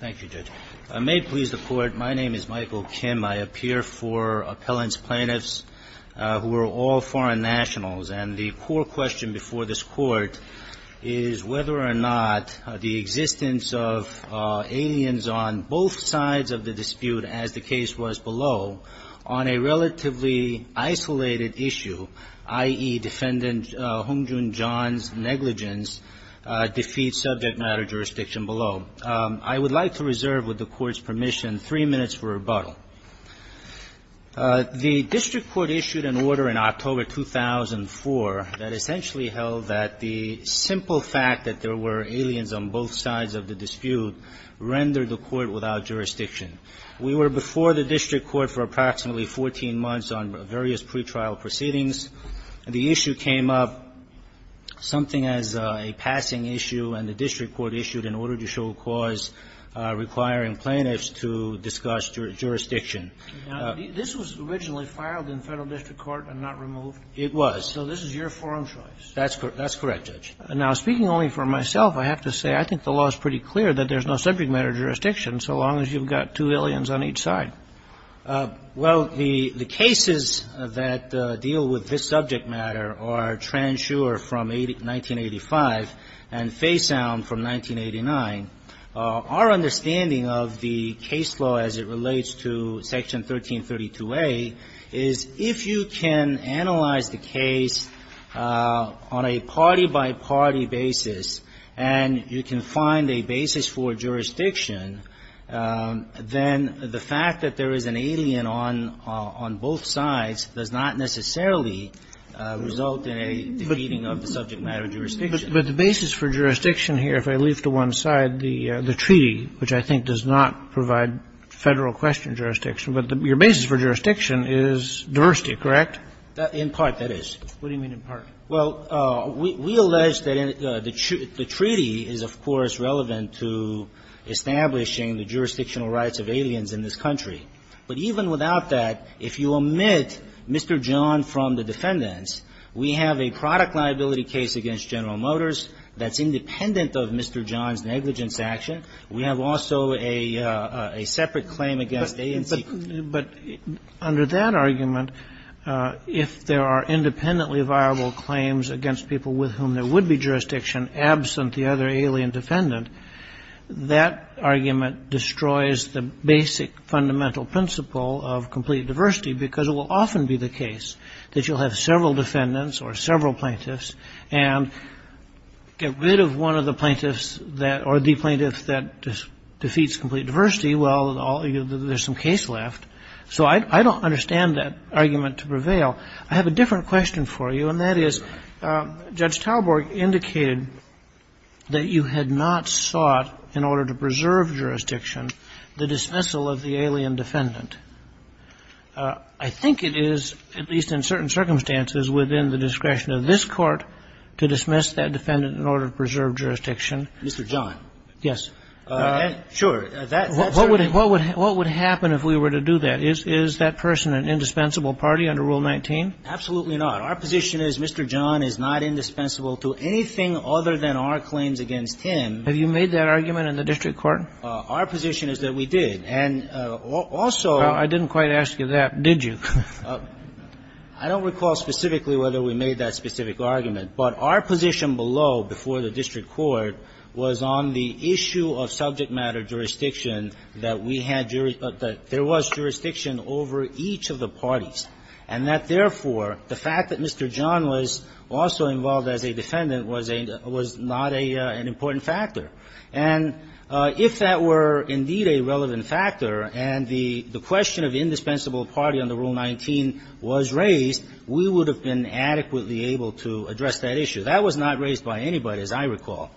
Thank you, Judge. I may please the Court. My name is Michael Kim. I appear for appellant's plaintiffs who are all foreign nationals, and the core question before this Court is whether or not the existence of aliens on both sides of the dispute, as the case was below, on a relatively isolated issue, i.e., defendant Hong Joon-Jeon's negligence, defeats subject matter jurisdiction below. I would like to reserve, with the Court's permission, three minutes for rebuttal. The district court issued an order in October 2004 that essentially held that the simple fact that there were aliens on both sides of the dispute rendered the Court without jurisdiction. We were before the district court for approximately 14 months on various pre-trial proceedings. The issue came up, something as a passing issue, and the district court issued an order to show cause requiring plaintiffs to discuss jurisdiction. This was originally filed in federal district court and not removed? It was. So this is your forum choice? That's correct, Judge. Now, speaking only for myself, I have to say I think the law is pretty clear that there's no subject matter jurisdiction so long as you've got two aliens on each side. Well, the cases that deal with this subject matter are Transure from 1985 and Faysound from 1989. Our understanding of the case law as it relates to Section 1332a is if you can analyze the case on a party-by-party basis and you can find a basis for jurisdiction, then the fact that there is an alien on both sides does not necessarily result in a defeating of the subject matter jurisdiction. But the basis for jurisdiction here, if I leave to one side the treaty, which I think does not provide Federal question jurisdiction, but your basis for jurisdiction is diversity, correct? In part, that is. What do you mean in part? Well, we allege that the treaty is, of course, relevant to establishing the jurisdictional rights of aliens in this country. But even without that, if you omit Mr. John from the defendants, we have a product liability case against General Motors that's independent of Mr. John's negligence action. We have also a separate claim against A&C. But under that argument, if there are independently viable claims against people with whom there would be jurisdiction absent the other alien defendant, that argument destroys the basic fundamental principle of complete diversity because it will often be the case that you'll have several defendants or several plaintiffs and get rid of one of the plaintiffs or the plaintiff that defeats complete diversity. Well, there's some case left. So I don't understand that argument to prevail. I have a different question for you, and that is, Judge Talborg indicated that you had not sought, in order to preserve jurisdiction, the dismissal of the alien defendant. I think it is, at least in certain circumstances, within the discretion of this Court to dismiss that defendant in order to preserve jurisdiction. Mr. John. Yes. Sure. What would happen if we were to do that? Is that person an indispensable party under Rule 19? Absolutely not. Our position is Mr. John is not indispensable to anything other than our claims against him. Have you made that argument in the district court? Our position is that we did. And also ---- Well, I didn't quite ask you that, did you? I don't recall specifically whether we made that specific argument. But our position below, before the district court, was on the issue of subject matter jurisdiction that we had ---- that there was jurisdiction over each of the parties, and that, therefore, the fact that Mr. John was also involved as a defendant was a ---- was not a ---- an important factor. And if that were indeed a relevant factor and the question of indispensable party under Rule 19 was raised, we would have been adequately able to address that issue. That was not raised by anybody, as I recall.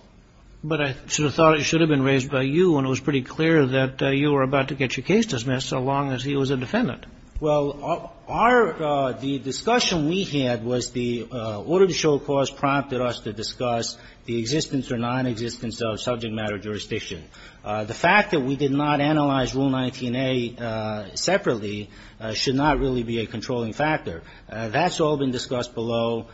But I should have thought it should have been raised by you, and it was pretty clear that you were about to get your case dismissed so long as he was a defendant. Well, our ---- the discussion we had was the order to show cause prompted us to discuss the existence or nonexistence of subject matter jurisdiction. The fact that we did not analyze Rule 19a separately should not really be a controlling factor. That's all been discussed below.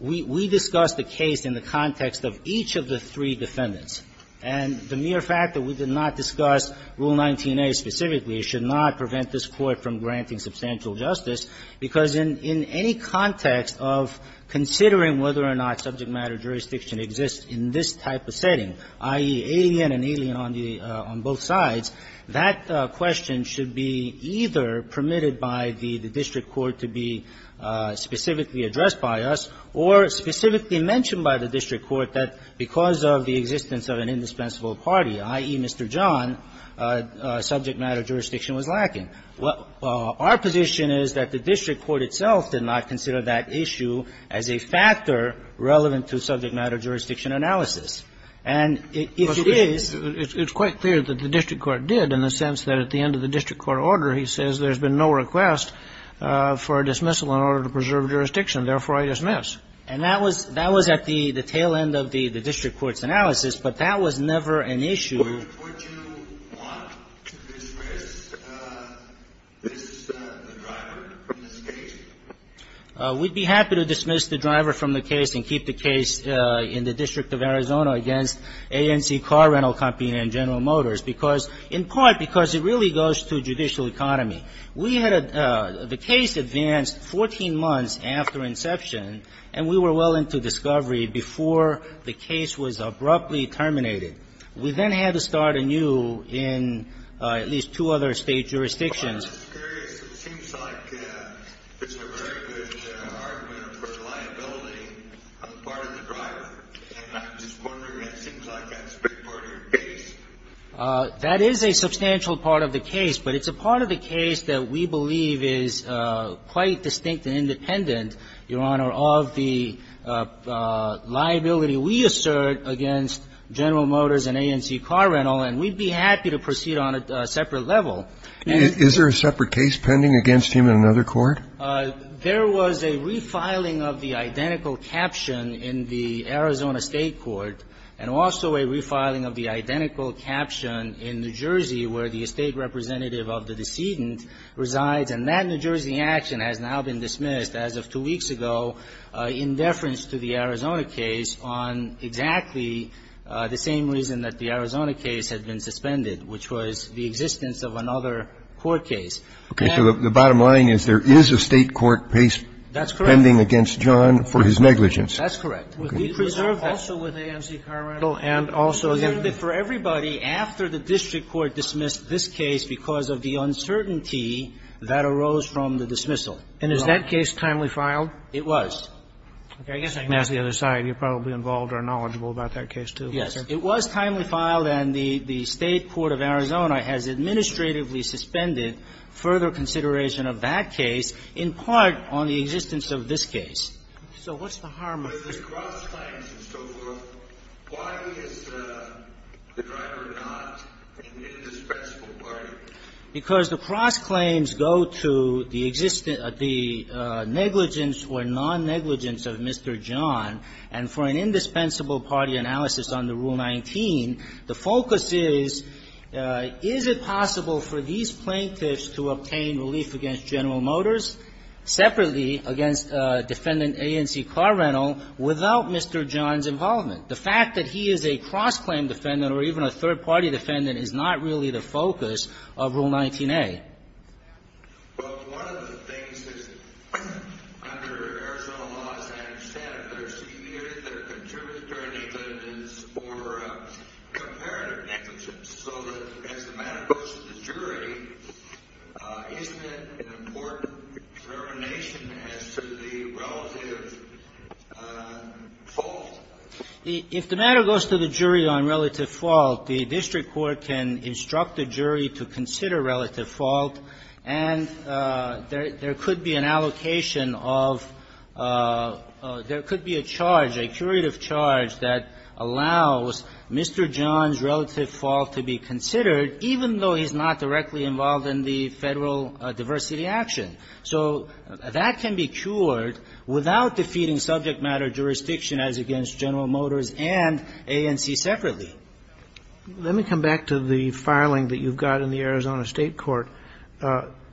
We discussed the case in the context of each of the three defendants. And the mere fact that we did not discuss Rule 19a specifically should not prevent this Court from granting substantial justice, because in any context of considering whether or not subject matter jurisdiction exists in this type of setting, i.e., the alien and alien on the ---- on both sides, that question should be either permitted by the district court to be specifically addressed by us or specifically mentioned by the district court that because of the existence of an indispensable party, i.e., Mr. John, subject matter jurisdiction was lacking. Our position is that the district court itself did not consider that issue as a factor relevant to subject matter jurisdiction analysis. And if it is ---- Kennedy, it's quite clear that the district court did, in the sense that at the end of the district court order, he says, there's been no request for a dismissal in order to preserve jurisdiction. Therefore, I dismiss. And that was at the tail end of the district court's analysis, but that was never an issue. Would you want to dismiss this driver from this case? We'd be happy to dismiss the driver from the case and keep the case in the District of Arizona against A&C Car Rental Company and General Motors because, in part, because it really goes to judicial economy. We had a ---- the case advanced 14 months after inception, and we were well into discovery before the case was abruptly terminated. We then had to start anew in at least two other State jurisdictions. I'm just curious. It seems like it's a very good argument for the liability on the part of the driver. And I'm just wondering, it seems like that's a big part of your case. That is a substantial part of the case, but it's a part of the case that we believe is quite distinct and independent, Your Honor, of the liability we assert against General Motors and A&C Car Rental, and we'd be happy to proceed on a separate level. Is there a separate case pending against him in another court? There was a refiling of the identical caption in the Arizona State court and also a refiling of the identical caption in New Jersey where the estate representative of the decedent resides, and that New Jersey action has now been dismissed as of two weeks ago in deference to the Arizona case on exactly the same reason that the Arizona case had been suspended, which was the existence of another court case. Okay. So the bottom line is there is a State court case pending against John for his negligence. That's correct. Okay. He preserved that also with A&C Car Rental and also the other. For everybody, after the district court dismissed this case because of the uncertainty that arose from the dismissal. And is that case timely filed? It was. Okay. I guess I can ask the other side. You're probably involved or knowledgeable about that case, too. Yes. It was timely filed, and the State court of Arizona has administratively suspended further consideration of that case in part on the existence of this case. So what's the harm of it? But if there's cross-claims and so forth, why is the driver not an indispensable party? Because the cross-claims go to the negligence or non-negligence of Mr. John, and for an indispensable party analysis under Rule 19, the focus is, is it possible for these plaintiffs to obtain relief against General Motors separately against Defendant A&C Car Rental without Mr. John's involvement? The fact that he is a cross-claim defendant or even a third-party defendant is not really the focus of Rule 19a. Well, one of the things that's under Arizona law, as I understand it, that are severe, that are contributed during negligence, or comparative negligence, so that as the matter goes to the jury, isn't it an important determination as to the relative fault? If the matter goes to the jury on relative fault, the district court can instruct the jury to consider relative fault, and there could be an allocation of – there could be a charge, a curative charge, that allows Mr. John's relative fault to be considered, even though he's not directly involved in the Federal diversity action. So that can be cured without defeating subject matter jurisdiction as against General Motors and A&C separately. Let me come back to the filing that you've got in the Arizona State Court.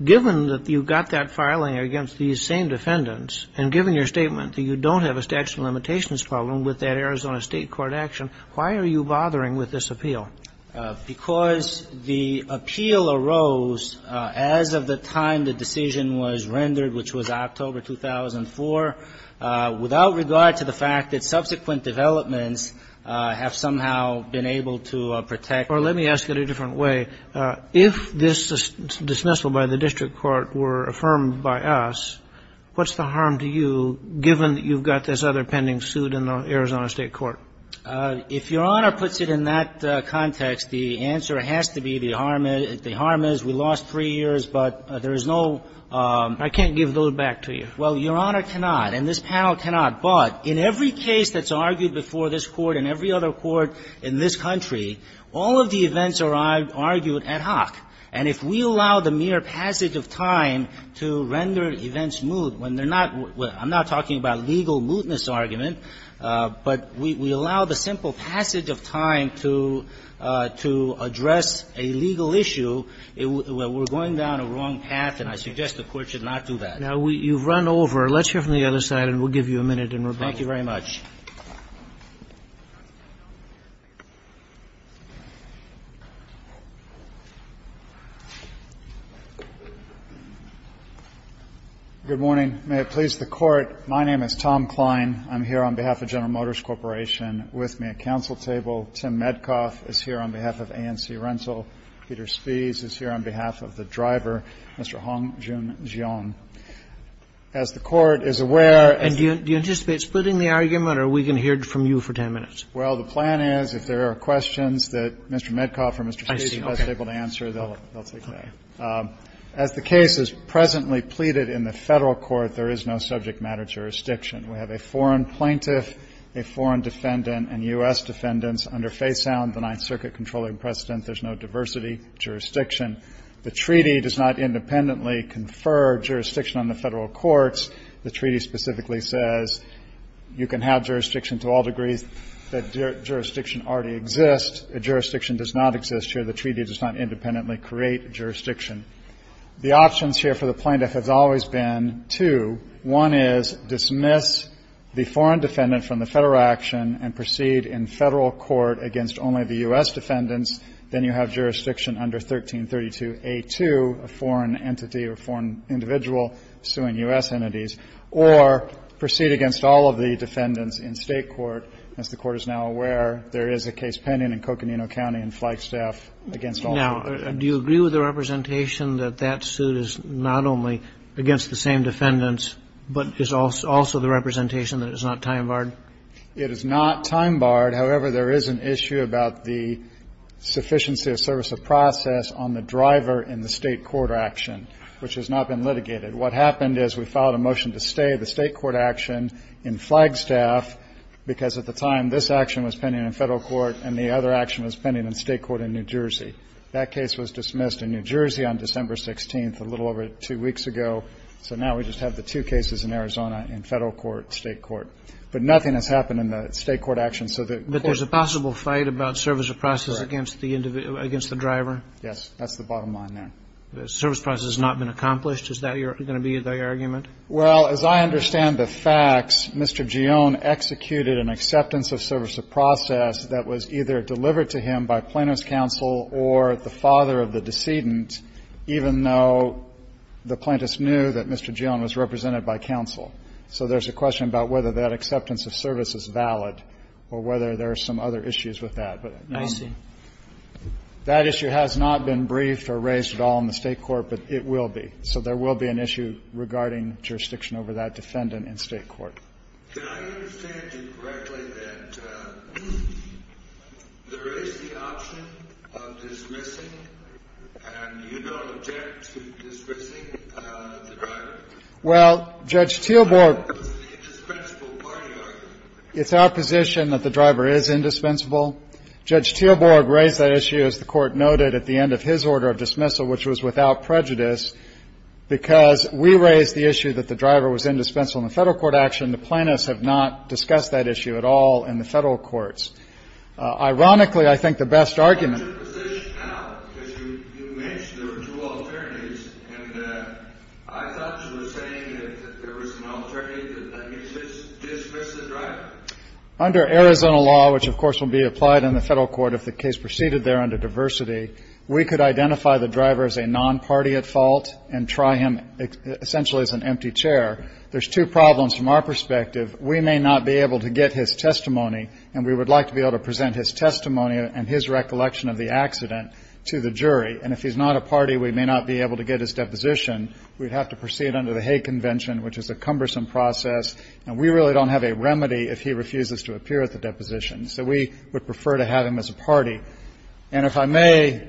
Given that you've got that filing against these same defendants, and given your statement that you don't have a statute of limitations problem with that Arizona State Court action, why are you bothering with this appeal? Because the appeal arose as of the time the decision was rendered, which was October 2004, without regard to the fact that subsequent developments have somehow been able to protect. Well, let me ask it a different way. If this dismissal by the district court were affirmed by us, what's the harm to you, given that you've got this other pending suit in the Arizona State Court? If Your Honor puts it in that context, the answer has to be the harm is we lost three years, but there is no – I can't give those back to you. Well, Your Honor cannot, and this panel cannot, but in every case that's argued before this Court and every other court in this country, all of the events are argued ad hoc, and if we allow the mere passage of time to render events moot when they're not – I'm not talking about legal mootness argument, but we allow the simple passage of time to address a legal issue, we're going down a wrong path, and I suggest the Court should not do that. Now, you've run over. Let's hear from the other side, and we'll give you a minute in rebuttal. Thank you very much. Good morning. May it please the Court, my name is Tom Kline. I'm here on behalf of General Motors Corporation. With me at counsel table, Tim Medcoff is here on behalf of ANC Rental. Peter Spies is here on behalf of the driver, Mr. Hong-Joon Jeon. As the Court is aware of the – And do you anticipate splitting the argument, or are we going to hear it from you for 10 minutes? Well, the plan is if there are questions that Mr. Medcoff or Mr. Spies is less able to answer, they'll take that. As the case is presently pleaded in the Federal court, there is no subject matter jurisdiction. We have a foreign plaintiff, a foreign defendant, and U.S. defendants. Under Faisound, the Ninth Circuit controlling precedent, there's no diversity jurisdiction. The treaty does not independently confer jurisdiction on the Federal courts. The treaty specifically says you can have jurisdiction to all degrees. The jurisdiction already exists. A jurisdiction does not exist here. The treaty does not independently create jurisdiction. The options here for the plaintiff has always been two. One is dismiss the foreign defendant from the Federal action and proceed in Federal court against only the U.S. defendants. Then you have jurisdiction under 1332A2, a foreign entity or foreign individual suing U.S. entities, or proceed against all of the defendants in State court. As the Court is now aware, there is a case pending in Coconino County in Flagstaff against all three. Now, do you agree with the representation that that suit is not only against the same defendants, but is also the representation that it is not time-barred? It is not time-barred. However, there is an issue about the sufficiency of service of process on the driver in the State court action, which has not been litigated. What happened is we filed a motion to stay the State court action in Flagstaff because at the time this action was pending in Federal court and the other action was pending in State court in New Jersey. That case was dismissed in New Jersey on December 16th, a little over two weeks ago, so now we just have the two cases in Arizona in Federal court, State court. But nothing has happened in the State court action, so the Court's ---- But there's a possible fight about service of process against the driver? Yes. That's the bottom line there. Service of process has not been accomplished? Is that going to be the argument? Well, as I understand the facts, Mr. Gion executed an acceptance of service of process that was either delivered to him by plaintiff's counsel or the father of the decedent, even though the plaintiff's knew that Mr. Gion was represented by counsel. So there's a question about whether that acceptance of service is valid or whether there are some other issues with that. I see. That issue has not been briefed or raised at all in the State court, but it will be. So there will be an issue regarding jurisdiction over that defendant in State court. Can I understand you correctly that there is the option of dismissing and you don't object to dismissing the driver? Well, Judge Teelborg ---- It's the indispensable party argument. It's our position that the driver is indispensable. Judge Teelborg raised that issue, as the Court noted, at the end of his order of dismissal, which was without prejudice, because we raised the issue that the driver was indispensable in the Federal court action. The plaintiffs have not discussed that issue at all in the Federal courts. Ironically, I think the best argument ---- Under Arizona law, which, of course, will be applied in the Federal court if the case proceeded there under diversity, we could identify the driver as a non-party at fault and try him essentially as an empty chair. There's two problems from our perspective. We may not be able to get his testimony, and we would like to be able to present his testimony and his recollection of the accident to the jury. And if he's not a party, we may not be able to get his deposition. We'd have to proceed under the Hague Convention, which is a cumbersome process, and we really don't have a remedy if he refuses to appear at the deposition. So we would prefer to have him as a party. And if I may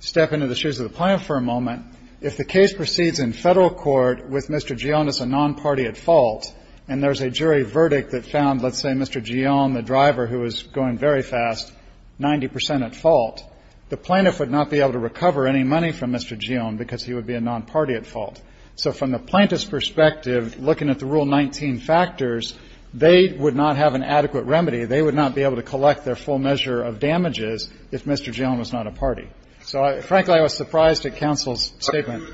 step into the shoes of the plaintiff for a moment, if the case proceeds in Federal court with Mr. Gion as a non-party at fault, and there's a jury verdict that found, let's say, Mr. Gion, the driver, who was going very fast, 90 percent at fault, the plaintiff would not be able to recover any money from Mr. Gion because he would be a non-party at fault. So from the plaintiff's perspective, looking at the Rule 19 factors, they would not have an adequate remedy. They would not be able to collect their full measure of damages if Mr. Gion was not a party. So, frankly, I was surprised at counsel's statement.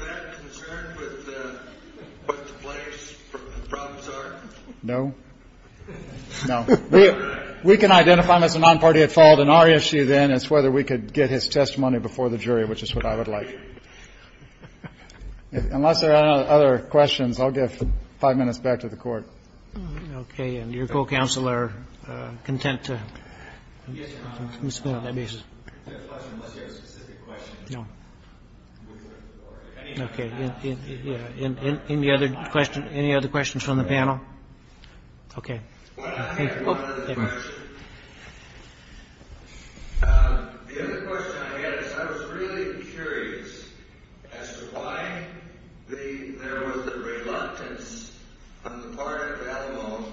We can identify him as a non-party at fault, and our issue, then, is whether we could get his testimony before the jury, which is what I would like. Unless there are other questions, I'll give five minutes back to the Court. Okay. And your co-counsel are content to respond on that basis? I have a question, unless you have a specific question. No. Okay. Any other questions from the panel? Okay. Well, I have one other question. The other question I had is I was really curious as to why there was a reluctance on the part of Alamo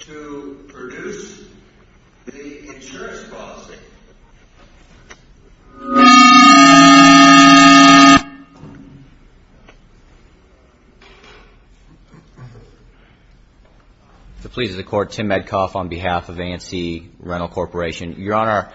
to produce the insurance policy. If it pleases the Court, Tim Medcoff on behalf of A&C Rental Corporation. Your Honor,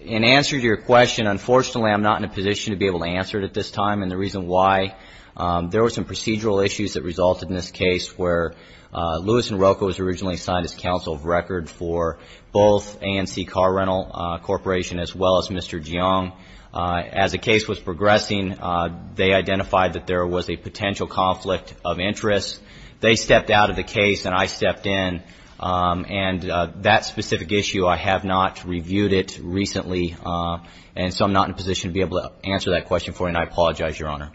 in answer to your question, unfortunately, I'm not in a position to be able to answer it at this time. And the reason why, there were some procedural issues that resulted in this case where Lewis and Rocco was originally assigned as counsel of record for both A&C Car Rental Corporation as well as Mr. Jiang. As the case was progressing, they identified that there was a potential conflict of interest. They stepped out of the case, and I stepped in. And that specific issue, I have not reviewed it recently. And so I'm not in a position to be able to answer that question for you, and I apologize, Your Honor.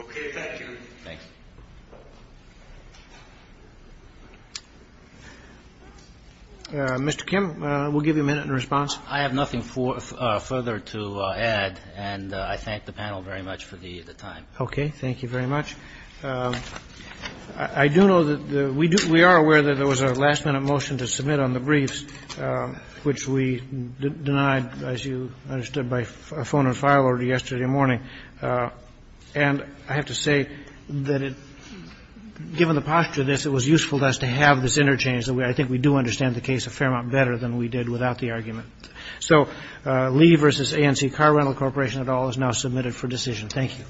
Okay. Thank you. Thanks. Mr. Kim, we'll give you a minute in response. I have nothing further to add, and I thank the panel very much for the time. Okay. Thank you very much. I do know that the we do we are aware that there was a last-minute motion to submit on the briefs, which we denied, as you understood by phone and file order yesterday morning. And I have to say that it, given the posture of this, it was useful to us to have this interchange that I think we do understand the case a fair amount better than we did without the argument. So Lee v. A&C Car Rental Corporation et al. is now submitted for decision. Thank you.